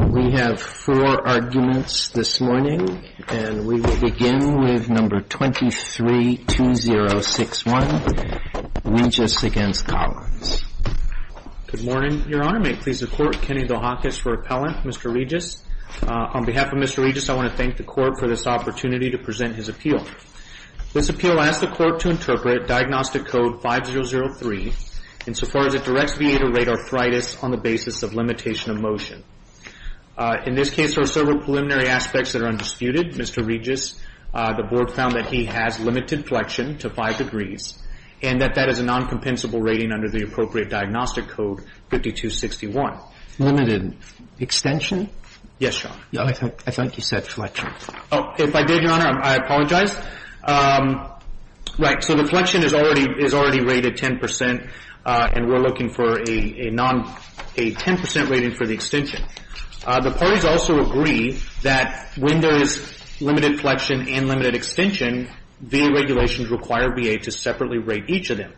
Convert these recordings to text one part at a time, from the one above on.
We have four arguments this morning, and we will begin with number 23-2061, Regis against Collins. Good morning, Your Honor. May it please the Court, Kenny Dohakis for appellant, Mr. Regis. On behalf of Mr. Regis, I want to thank the Court for this opportunity to present his appeal. This appeal asks the Court to interpret Diagnostic Code 5003 insofar as it directs In this case, there are several preliminary aspects that are undisputed. Mr. Regis, the Board found that he has limited flexion to 5 degrees and that that is a noncompensable rating under the appropriate Diagnostic Code 5261. Limited extension? Yes, Your Honor. I thought you said flexion. If I did, Your Honor, I apologize. Right, so the flexion is already rated 10%, and we're looking for a 10% rating for the extension. The parties also agree that when there is limited flexion and limited extension, VA regulations require VA to separately rate each of them.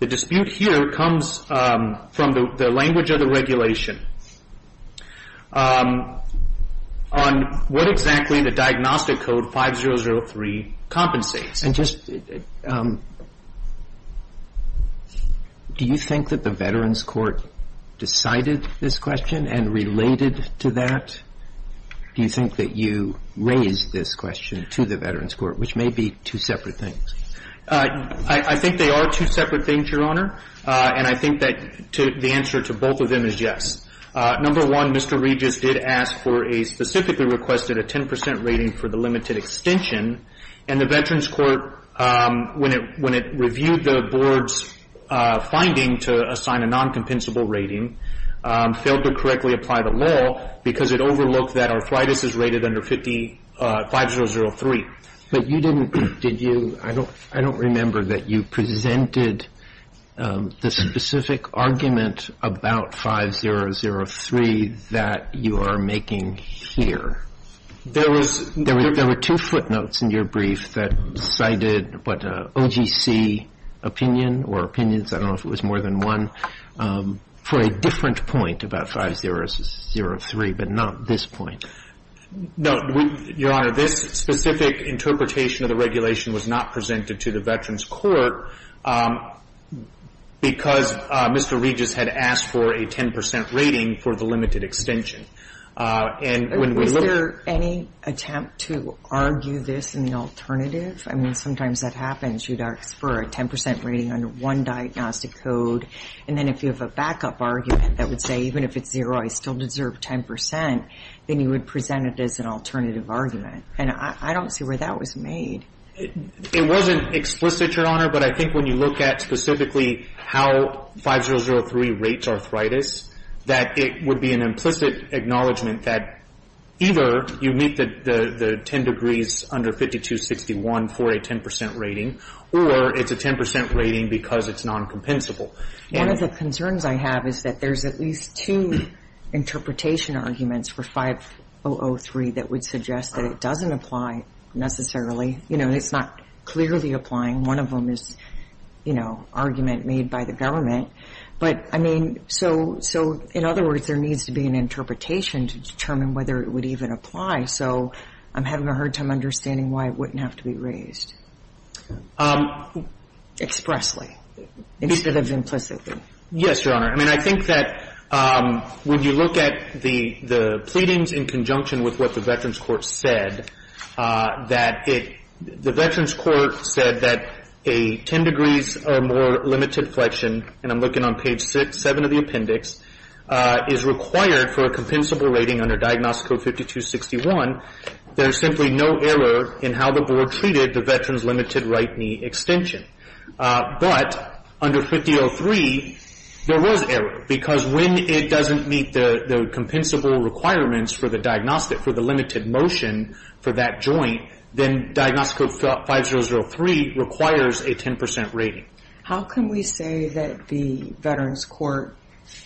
The dispute here comes from the language of the regulation on what exactly the Diagnostic Code 5003 compensates. And just, do you think that the Veterans Court decided this question and related to that? Do you think that you raised this question to the Veterans Court, which may be two separate things? I think they are two separate things, Your Honor, and I think that the answer to both of them is yes. Number one, Mr. Regis did ask for a specifically requested a 10% rating for the limited extension, and the Veterans Court, when it reviewed the Board's finding to assign a noncompensable rating, failed to correctly apply the law because it overlooked that arthritis is rated under 5003. But you didn't, did you, I don't remember that you presented the specific argument about 5003 that you are making here. There were two footnotes in your brief that cited what, OGC opinion or opinions, I don't know if it was more than one, for a different point about 5003, but not this point. No, Your Honor. This specific interpretation of the regulation was not presented to the Veterans Court because Mr. Regis had asked for a 10% rating for the limited extension. And when we look at the- Was there any attempt to argue this in the alternative? I mean, sometimes that happens. You'd ask for a 10% rating under one diagnostic code, and then if you have a backup argument that would say even if it's zero, I still deserve 10%, then you would present it as an alternative argument. And I don't see where that was made. It wasn't explicit, Your Honor, but I think when you look at specifically how 5003 rates arthritis, that it would be an implicit acknowledgment that either you meet the 10 degrees under 5261 for a 10% rating, or it's a 10% rating because it's noncompensable. One of the concerns I have is that there's at least two interpretation arguments for 5003 that would suggest that it doesn't apply necessarily. You know, it's not clearly applying. One of them is, you know, argument made by the government. But, I mean, so in other words, there needs to be an interpretation to determine whether it would even apply. So I'm having a hard time understanding why it wouldn't have to be raised expressly instead of implicitly. Yes, Your Honor. I mean, I think that when you look at the pleadings in conjunction with what the Veterans Court said, that it the Veterans Court said that a 10 degrees or more limited flexion, and I'm looking on page 6, 7 of the appendix, is required for a compensable rating under Diagnostic Code 5261, there's simply no error in how the Board treated the Veterans limited right knee extension. But under 5003, there was error. Because when it doesn't meet the compensable requirements for the diagnostic, for the limited motion for that joint, then Diagnostic Code 5003 requires a 10 percent rating. How can we say that the Veterans Court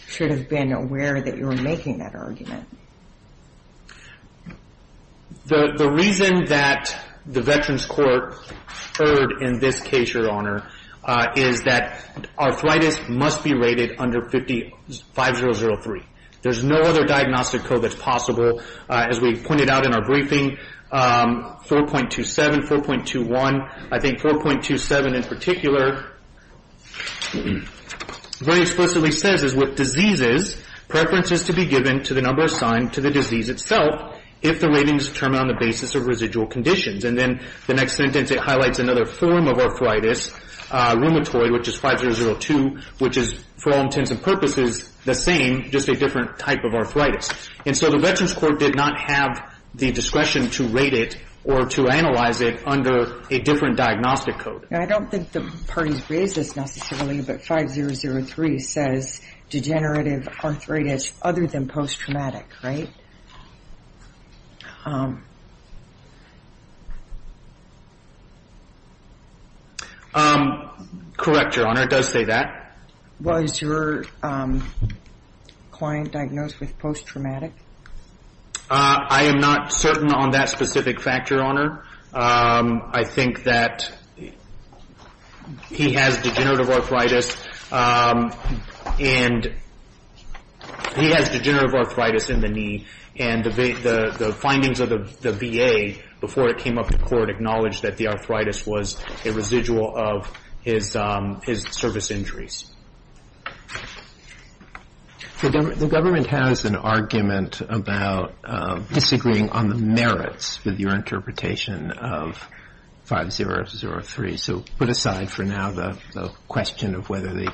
should have been aware that you were making that argument? The reason that the Veterans Court erred in this case, Your Honor, is that arthritis must be rated under 5003. There's no other diagnostic code that's possible. As we pointed out in our briefing, 4.27, 4.21, I think 4.27 in particular very explicitly says with diseases, preferences to be given to the number assigned to the disease itself if the rating is determined on the basis of residual conditions. And then the next sentence, it highlights another form of arthritis, rheumatoid, which is 5002, which is, for all intents and purposes, the same, just a different type of arthritis. And so the Veterans Court did not have the discretion to rate it or to analyze it under a different diagnostic code. I don't think the parties raised this necessarily, but 5003 says degenerative arthritis other than post-traumatic, right? Correct, Your Honor. It does say that. Was your client diagnosed with post-traumatic? I am not certain on that specific factor, Your Honor. I think that he has degenerative arthritis and he has degenerative arthritis in the knee. And the findings of the VA before it came up to court acknowledged that the arthritis was a residual of his service injuries. The government has an argument about disagreeing on the merits with your interpretation of 5003. So put aside for now the question of whether the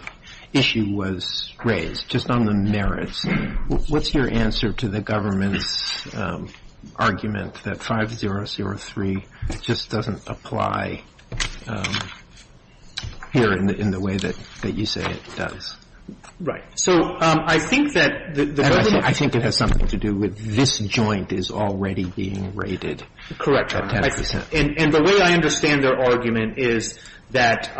issue was raised, just on the merits. What's your answer to the government's argument that 5003 just doesn't apply here in the way that you say it does? So I think that the government ---- I think it has something to do with this joint is already being rated at 10 percent. And the way I understand their argument is that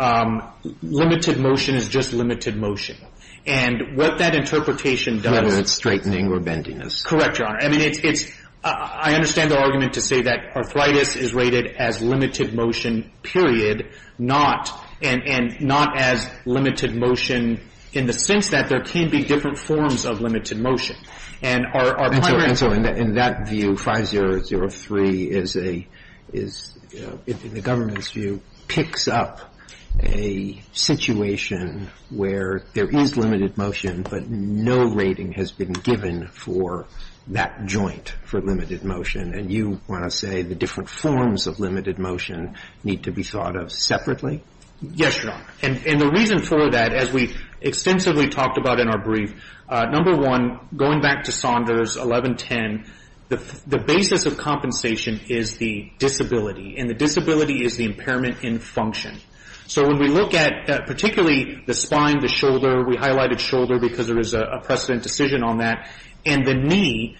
limited motion is just limited motion. And what that interpretation does ---- Whether it's straightening or bendiness. Correct, Your Honor. I mean, it's ---- I understand their argument to say that arthritis is rated as limited motion, period, not as limited motion in the sense that there can be different forms of limited motion. And our primary ---- And so in that view, 5003 is a ---- in the government's view, picks up a situation where there is limited motion, but no rating has been given for that joint for limited motion. And you want to say the different forms of limited motion need to be thought of separately? Yes, Your Honor. And the reason for that, as we extensively talked about in our brief, number one, going back to Saunders 1110, the basis of compensation is the disability. And the disability is the impairment in function. So when we look at particularly the spine, the shoulder, we highlighted shoulder because there is a precedent decision on that. And the knee,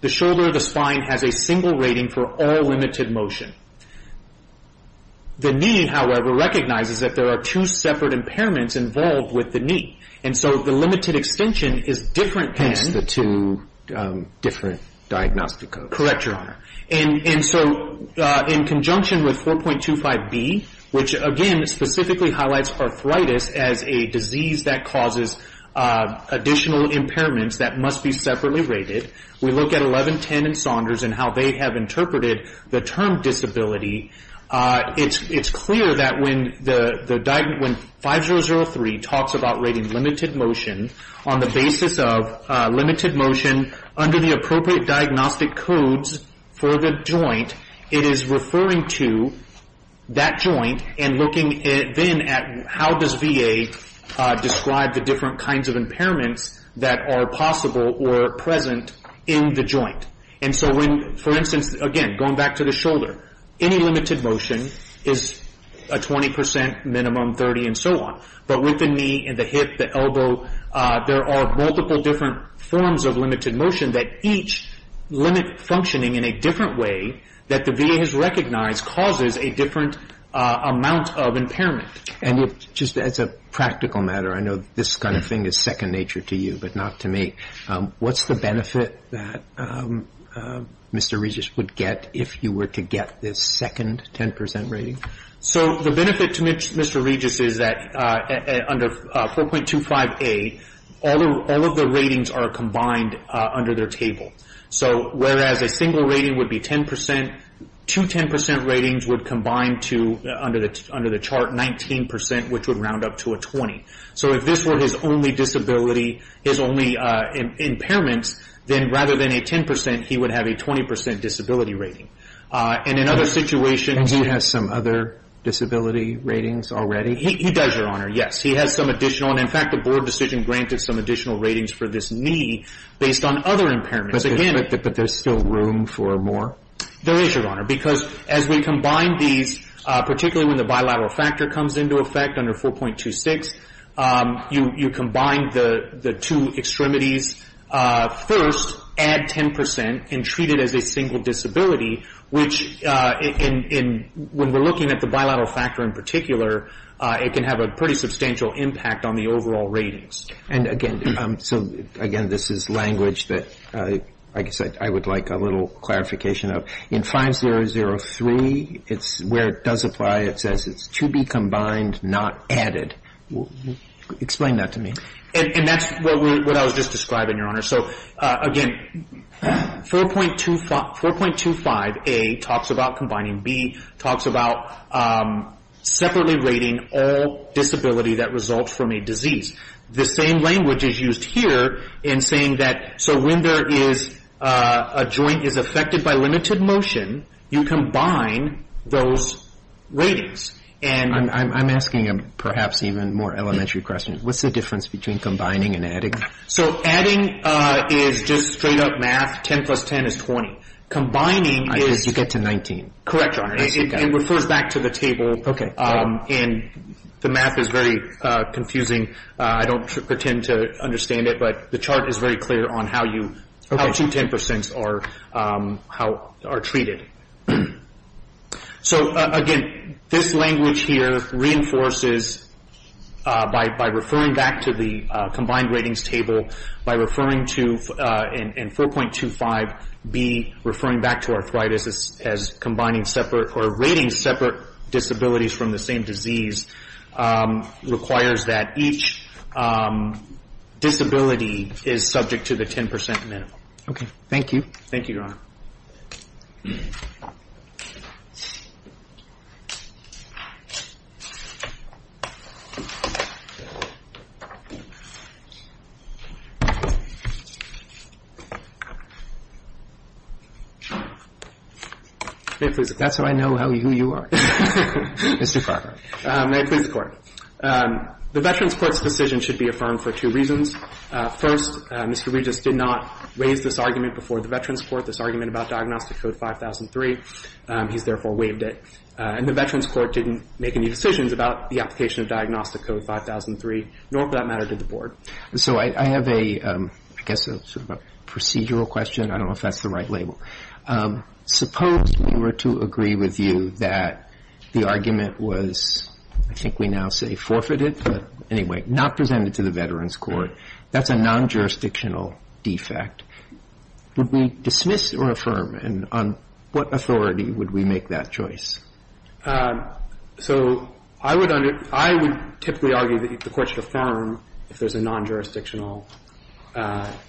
the shoulder, the spine has a single rating for all limited motion. The knee, however, recognizes that there are two separate impairments involved with the knee. And so the limited extension is different than ---- Hence the two different diagnostic codes. Correct, Your Honor. And so in conjunction with 4.25B, which, again, specifically highlights arthritis as a disease that causes additional impairments that must be separately rated, we look at 1110 and Saunders and how they have interpreted the term disability. It's clear that when 5003 talks about rating limited motion on the basis of limited motion under the appropriate diagnostic codes for the joint, it is referring to that joint and looking then at how does VA describe the different kinds of impairments that are possible or present in the joint. And so when, for instance, again, going back to the shoulder, any limited motion is a 20 percent minimum, 30 and so on. But with the knee and the hip, the elbow, there are multiple different forms of limited motion that each limit functioning in a different way that the VA has recognized causes a different amount of impairment. And just as a practical matter, I know this kind of thing is second nature to you, but not to me. What's the benefit that Mr. Regis would get if you were to get this second 10 percent rating? So the benefit to Mr. Regis is that under 4.25A, all of the ratings are combined under their table. So whereas a single rating would be 10 percent, two 10 percent ratings would combine to, under the chart, 19 percent, which would round up to a 20. So if this were his only disability, his only impairments, then rather than a 10 percent, he would have a 20 percent disability rating. And in other situations- And he has some other disability ratings already? He does, Your Honor, yes. He has some additional. And in fact, the board decision granted some additional ratings for this knee based on other impairments. But there's still room for more? There is, Your Honor, because as we combine these, particularly when the bilateral factor comes into effect under 4.26, you combine the two extremities first, add 10 percent, and treat it as a single disability, which when we're looking at the bilateral factor in particular, it can have a pretty substantial impact on the overall ratings. And again, so again, this is language that I guess I would like a little clarification of. In 5003, where it does apply, it says it's to be combined, not added. Explain that to me. And that's what I was just describing, Your Honor. So again, 4.25A talks about combining. B talks about separately rating all disability that results from a disease. The same language is used here in saying that so when there is a joint is affected by limited motion, you combine those ratings. I'm asking a perhaps even more elementary question. What's the difference between combining and adding? So adding is just straight up math. 10 plus 10 is 20. Combining is 19. Correct, Your Honor. It refers back to the table. Okay. And the math is very confusing. I don't pretend to understand it, but the chart is very clear on how two 10 percents are treated. So again, this language here reinforces by referring back to the combined ratings table, by referring to in 4.25B, referring back to arthritis as combining separate or rating separate disabilities from the same disease requires that each disability is subject to the 10 percent minimum. Okay. Thank you. Thank you, Your Honor. That's how I know who you are, Mr. Farber. May it please the Court. The Veterans Court's decision should be affirmed for two reasons. First, Mr. Regis did not raise this argument before the Veterans Court, this argument about Diagnostic Code 5003. He's therefore waived it. And the Veterans Court didn't make any decisions about the application of Diagnostic Code 5003, nor for that matter did the Board. So I have a, I guess, sort of a procedural question. I don't know if that's the right label. Suppose we were to agree with you that the argument was, I think we now say forfeited, but anyway, not presented to the Veterans Court. That's a non-jurisdictional defect. Would we dismiss or affirm? And on what authority would we make that choice? So I would under, I would typically argue that the Court should affirm if there's a non-jurisdictional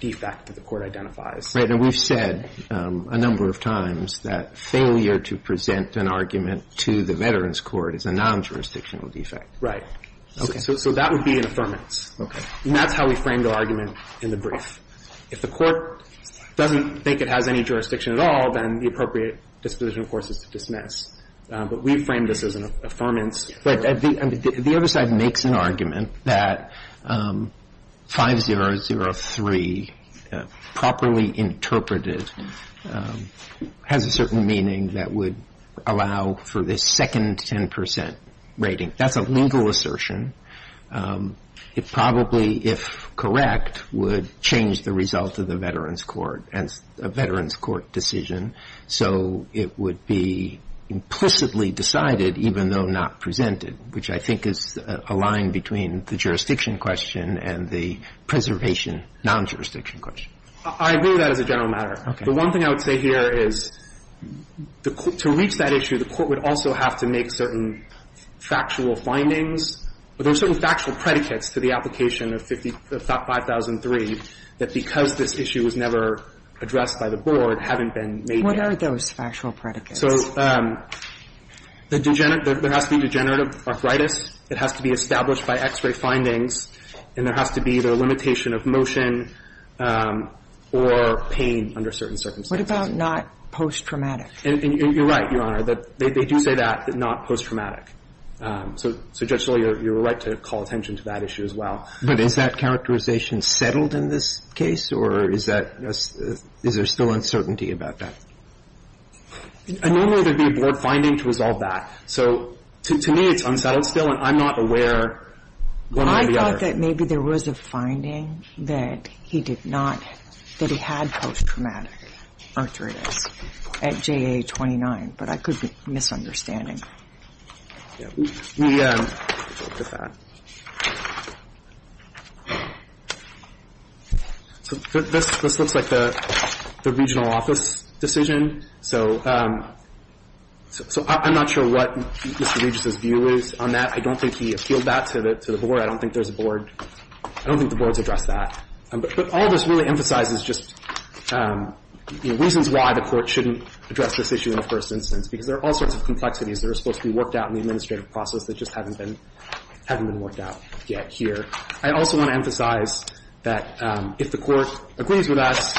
defect that the Court identifies. And we've said a number of times that failure to present an argument to the Veterans Court is a non-jurisdictional defect. Right. Okay. So that would be an affirmance. Okay. And that's how we framed our argument in the brief. If the Court doesn't think it has any jurisdiction at all, then the appropriate disposition, of course, is to dismiss. But we framed this as an affirmance. But the other side makes an argument that 5003, properly interpreted, has a certain meaning that would allow for this second 10 percent rating. That's a legal assertion. It probably, if correct, would change the result of the Veterans Court, and a Veterans Court decision. So it would be implicitly decided, even though not presented, which I think is a line between the jurisdiction question and the preservation non-jurisdiction question. I agree with that as a general matter. Okay. The one thing I would say here is to reach that issue, the Court would also have to make certain factual findings. There are certain factual predicates to the application of 5003 that because this issue was never addressed by the Board, haven't been made clear. What are those factual predicates? So there has to be degenerative arthritis. It has to be established by X-ray findings. And there has to be either a limitation of motion or pain under certain circumstances. What about not post-traumatic? You're right, Your Honor. They do say that, not post-traumatic. So, Judge Scalia, you're right to call attention to that issue as well. But is that characterization settled in this case, or is there still uncertainty about that? Normally, there would be a Board finding to resolve that. So to me, it's unsettled still, and I'm not aware one way or the other. I thought that maybe there was a finding that he did not, that he had post-traumatic arthritis at JA-29, but I could be misunderstanding. So this looks like the regional office decision. So I'm not sure what Mr. Regis' view is on that. I don't think he appealed that to the Board. I don't think there's a Board. I don't think the Board's addressed that. But all this really emphasizes just reasons why the Court shouldn't address this issue in the first instance, because there are all sorts of complexities that are supposed to be worked out in the administrative process that just haven't been worked out yet here. I also want to emphasize that if the Court agrees with us,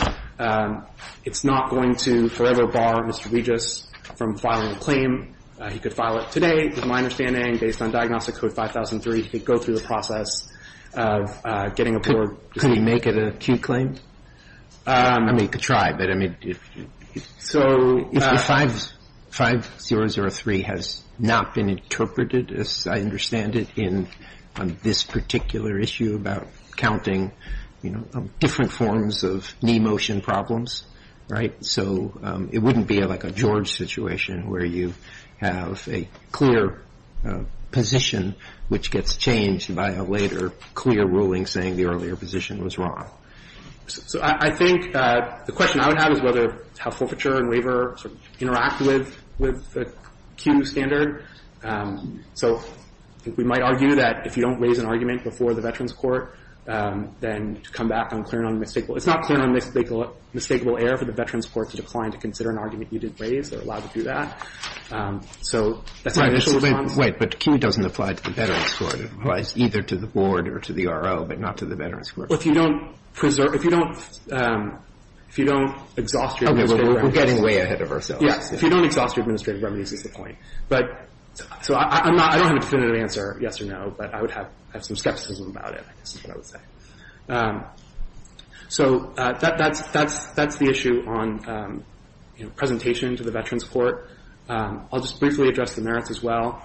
it's not going to forever bar Mr. Regis from filing a claim. He could file it today, to my understanding, based on Diagnostic Code 5003. He could go through the process of getting a Board decision. Could he make it an acute claim? I mean, he could try, but I mean. If 5003 has not been interpreted, as I understand it, on this particular issue about counting different forms of knee motion problems, so it wouldn't be like a George situation where you have a clear position which gets changed by a later clear ruling saying the earlier position was wrong. So I think the question I would have is whether how forfeiture and waiver sort of interact with the Q standard. So I think we might argue that if you don't raise an argument before the Veterans Court, then to come back on clear and unmistakable. It's not clear and unmistakable error for the Veterans Court to decline to consider an argument you didn't raise. They're allowed to do that. So that's my initial response. But Q doesn't apply to the Veterans Court. It applies either to the Board or to the R.O., but not to the Veterans Court. Well, if you don't preserve – if you don't – if you don't exhaust your administrative remedies. Okay. We're getting way ahead of ourselves. Yes. If you don't exhaust your administrative remedies is the point. But – so I'm not – I don't have a definitive answer, yes or no, but I would have some skepticism about it, I guess is what I would say. So that's the issue on, you know, presentation to the Veterans Court. I'll just briefly address the merits as well.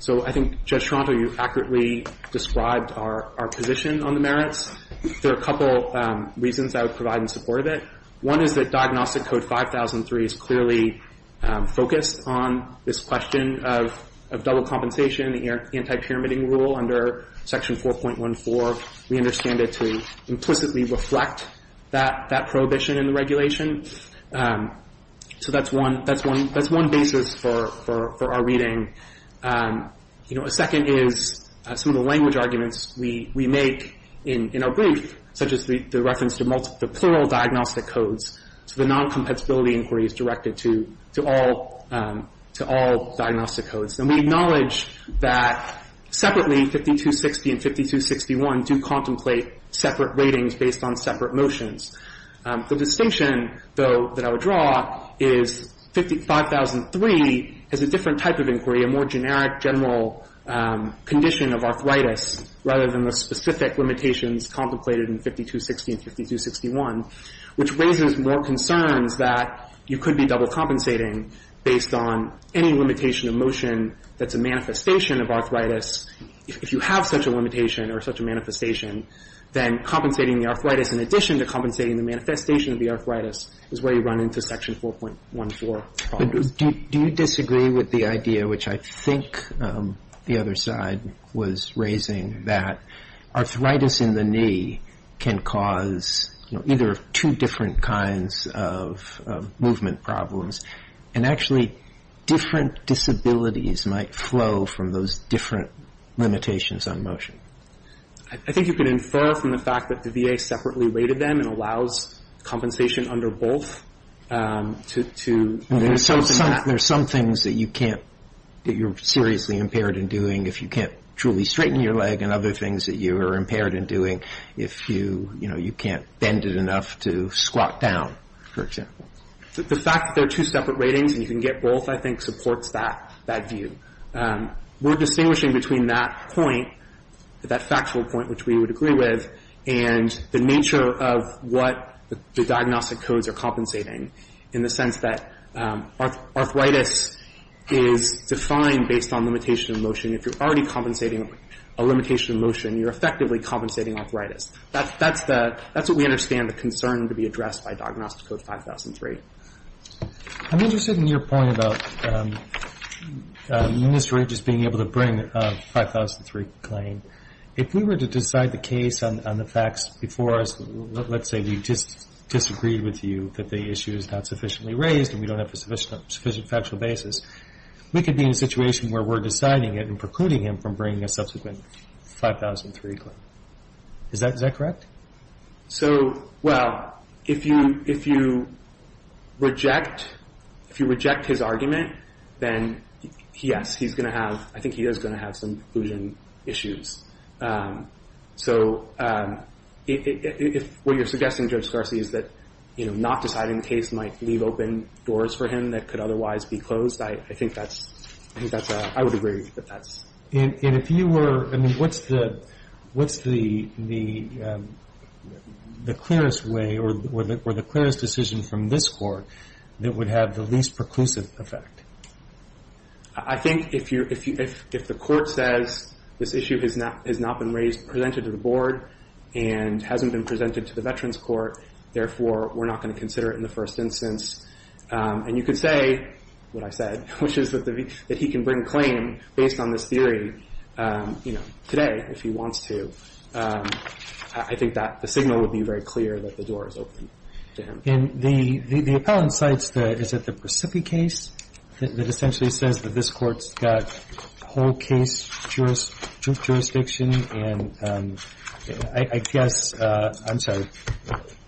So I think, Judge Toronto, you accurately described our position on the merits. There are a couple reasons I would provide in support of it. One is that Diagnostic Code 5003 is clearly focused on this question of double compensation, the anti-pyramiding rule under Section 4.14. We understand it to implicitly reflect that prohibition in the regulation. So that's one – that's one basis for our reading. You know, a second is some of the language arguments we make in our brief, such as the reference to the plural diagnostic codes. So the non-compensability inquiry is directed to all diagnostic codes. And we acknowledge that separately 5260 and 5261 do contemplate separate ratings based on separate motions. The distinction, though, that I would draw is 5003 has a different type of inquiry, a more generic general condition of arthritis rather than the specific limitations contemplated in 5260 and 5261, which raises more concerns that you could be double compensating based on any limitation of motion that's a manifestation of arthritis. If you have such a limitation or such a manifestation, then compensating the arthritis in addition to compensating the manifestation of the arthritis is where you run into Section 4.14. Do you disagree with the idea, which I think the other side was raising, that arthritis in the knee can cause, you know, either two different kinds of movement problems and actually different disabilities might flow from those different limitations on motion? I think you can infer from the fact that the VA separately rated them and allows compensation under both to do that. There are some things that you can't, that you're seriously impaired in doing if you can't truly straighten your leg and other things that you are impaired in doing if you, you know, you can't bend it enough to squat down, for example. The fact that there are two separate ratings and you can get both, I think, supports that view. We're distinguishing between that point, that factual point, which we would agree with, and the nature of what the diagnostic codes are compensating, in the sense that arthritis is defined based on limitation of motion. If you're already compensating a limitation of motion, you're effectively compensating arthritis. That's what we understand the concern to be addressed by Diagnostic Code 5003. I'm interested in your point about Mr. Rages being able to bring a 5003 claim. If we were to decide the case on the facts before us, let's say we just disagreed with you that the issue is not sufficiently raised and we don't have a sufficient factual basis, we could be in a situation where we're deciding it and precluding him from bringing a subsequent 5003 claim. Is that correct? Well, if you reject his argument, then yes, I think he is going to have some conclusion issues. What you're suggesting, Judge Scarcey, is that not deciding the case might leave open doors for him that could otherwise be closed. I would agree with that. What's the clearest way or the clearest decision from this Court that would have the least preclusive effect? I think if the Court says this issue has not been presented to the Board and hasn't been presented to the Veterans Court, therefore we're not going to consider it in the first instance. And you could say what I said, which is that he can bring claim based on this theory, you know, today if he wants to. I think that the signal would be very clear that the door is open to him. And the appellant cites the – is it the Priscippi case that essentially says that this Court's got whole case jurisdiction and I guess – I'm sorry,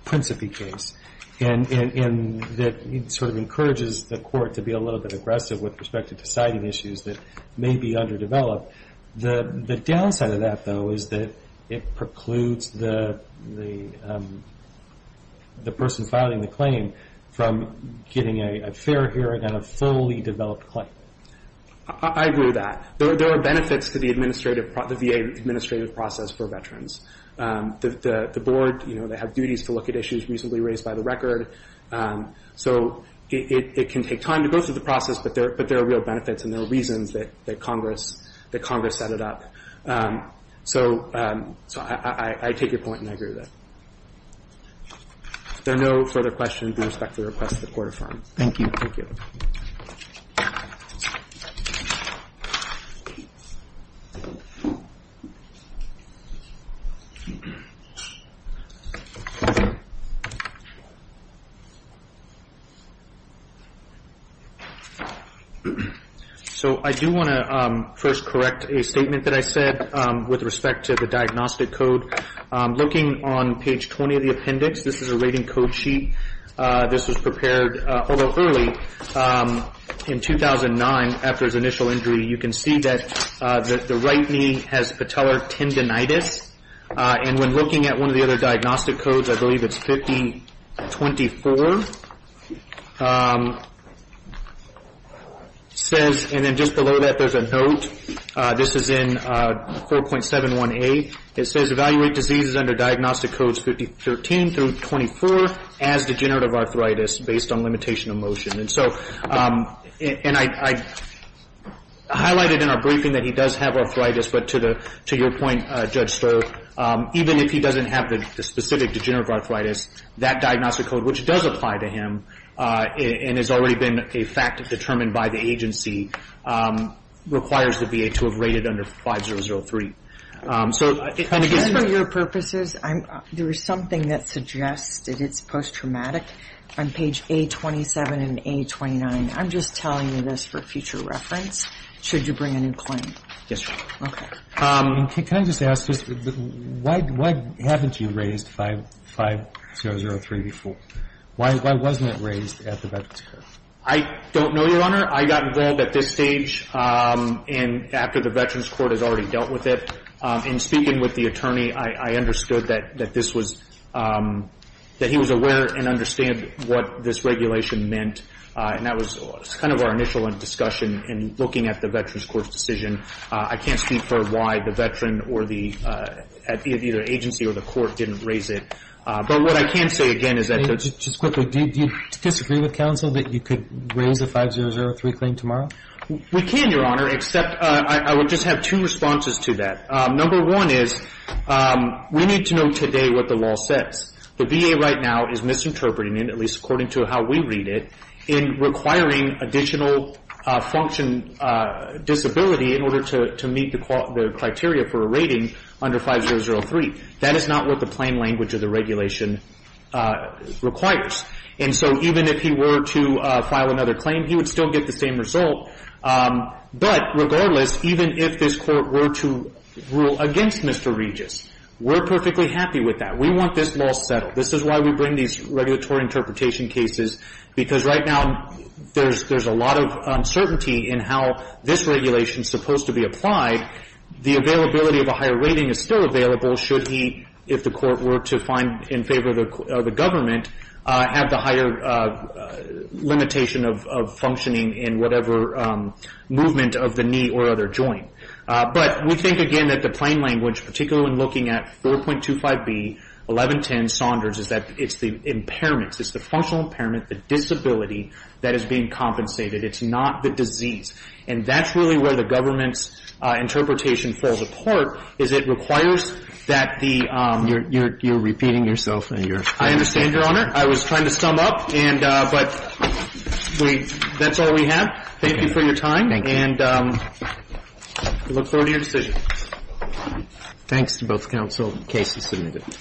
Priscippi case and that sort of encourages the Court to be a little bit aggressive with respect to deciding issues that may be underdeveloped. The downside of that, though, is that it precludes the person filing the claim from getting a fair hearing on a fully developed claim. I agree with that. There are benefits to the administrative – the VA administrative process for veterans. The Board, you know, they have duties to look at issues reasonably raised by the record. So it can take time to go through the process, but there are real benefits and there are reasons that Congress – that Congress set it up. So I take your point and I agree with it. If there are no further questions, I respectfully request that the Court affirm. Thank you. So I do want to first correct a statement that I said with respect to the diagnostic code. Looking on page 20 of the appendix, this is a rating code sheet. This was prepared a little early. In 2009, after his initial injury, you can see that the right knee has patellar tendinitis. And when looking at one of the other diagnostic codes, I believe it's 5024, it says – and then just below that there's a note. This is in 4.71a. It says, Evaluate diseases under diagnostic codes 5013 through 5024 as degenerative arthritis based on limitation of motion. And so – and I highlighted in our briefing that he does have arthritis, but to your point, Judge Sterr, even if he doesn't have the specific degenerative arthritis, that diagnostic code, which does apply to him and has already been a fact determined by the agency, requires the VA to have rated under 5003. So if – And for your purposes, there was something that suggested it's post-traumatic on page A27 and A29. I'm just telling you this for future reference. Should you bring a new claim? Yes, Your Honor. Okay. Can I just ask, why haven't you raised 5003 before? Why wasn't it raised at the Veterans Court? I don't know, Your Honor. Your Honor, I got involved at this stage and after the Veterans Court has already dealt with it. In speaking with the attorney, I understood that this was – that he was aware and understand what this regulation meant, and that was kind of our initial discussion in looking at the Veterans Court's decision. I can't speak for why the veteran or the – either agency or the court didn't raise it. But what I can say again is that – Just quickly, do you disagree with counsel that you could raise a 5003 claim tomorrow? We can, Your Honor, except I would just have two responses to that. Number one is we need to know today what the law says. The VA right now is misinterpreting it, at least according to how we read it, in requiring additional function disability in order to meet the criteria for a rating under 5003. That is not what the plain language of the regulation requires. And so even if he were to file another claim, he would still get the same result. But regardless, even if this Court were to rule against Mr. Regis, we're perfectly happy with that. We want this law settled. This is why we bring these regulatory interpretation cases, because right now there's a lot of uncertainty in how this regulation is supposed to be applied. The availability of a higher rating is still available should he, if the Court were to find in favor of the government, have the higher limitation of functioning in whatever movement of the knee or other joint. But we think, again, that the plain language, particularly when looking at 4.25b, 1110 Saunders, is that it's the impairments, it's the functional impairment, the disability that is being compensated. It's not the disease. And that's really where the government's interpretation falls apart, is it requires that the ‑‑ You're repeating yourself. I understand, Your Honor. I was trying to sum up. But that's all we have. Thank you for your time. Thank you. And I look forward to your decision. Thanks to both counsel. The case is submitted.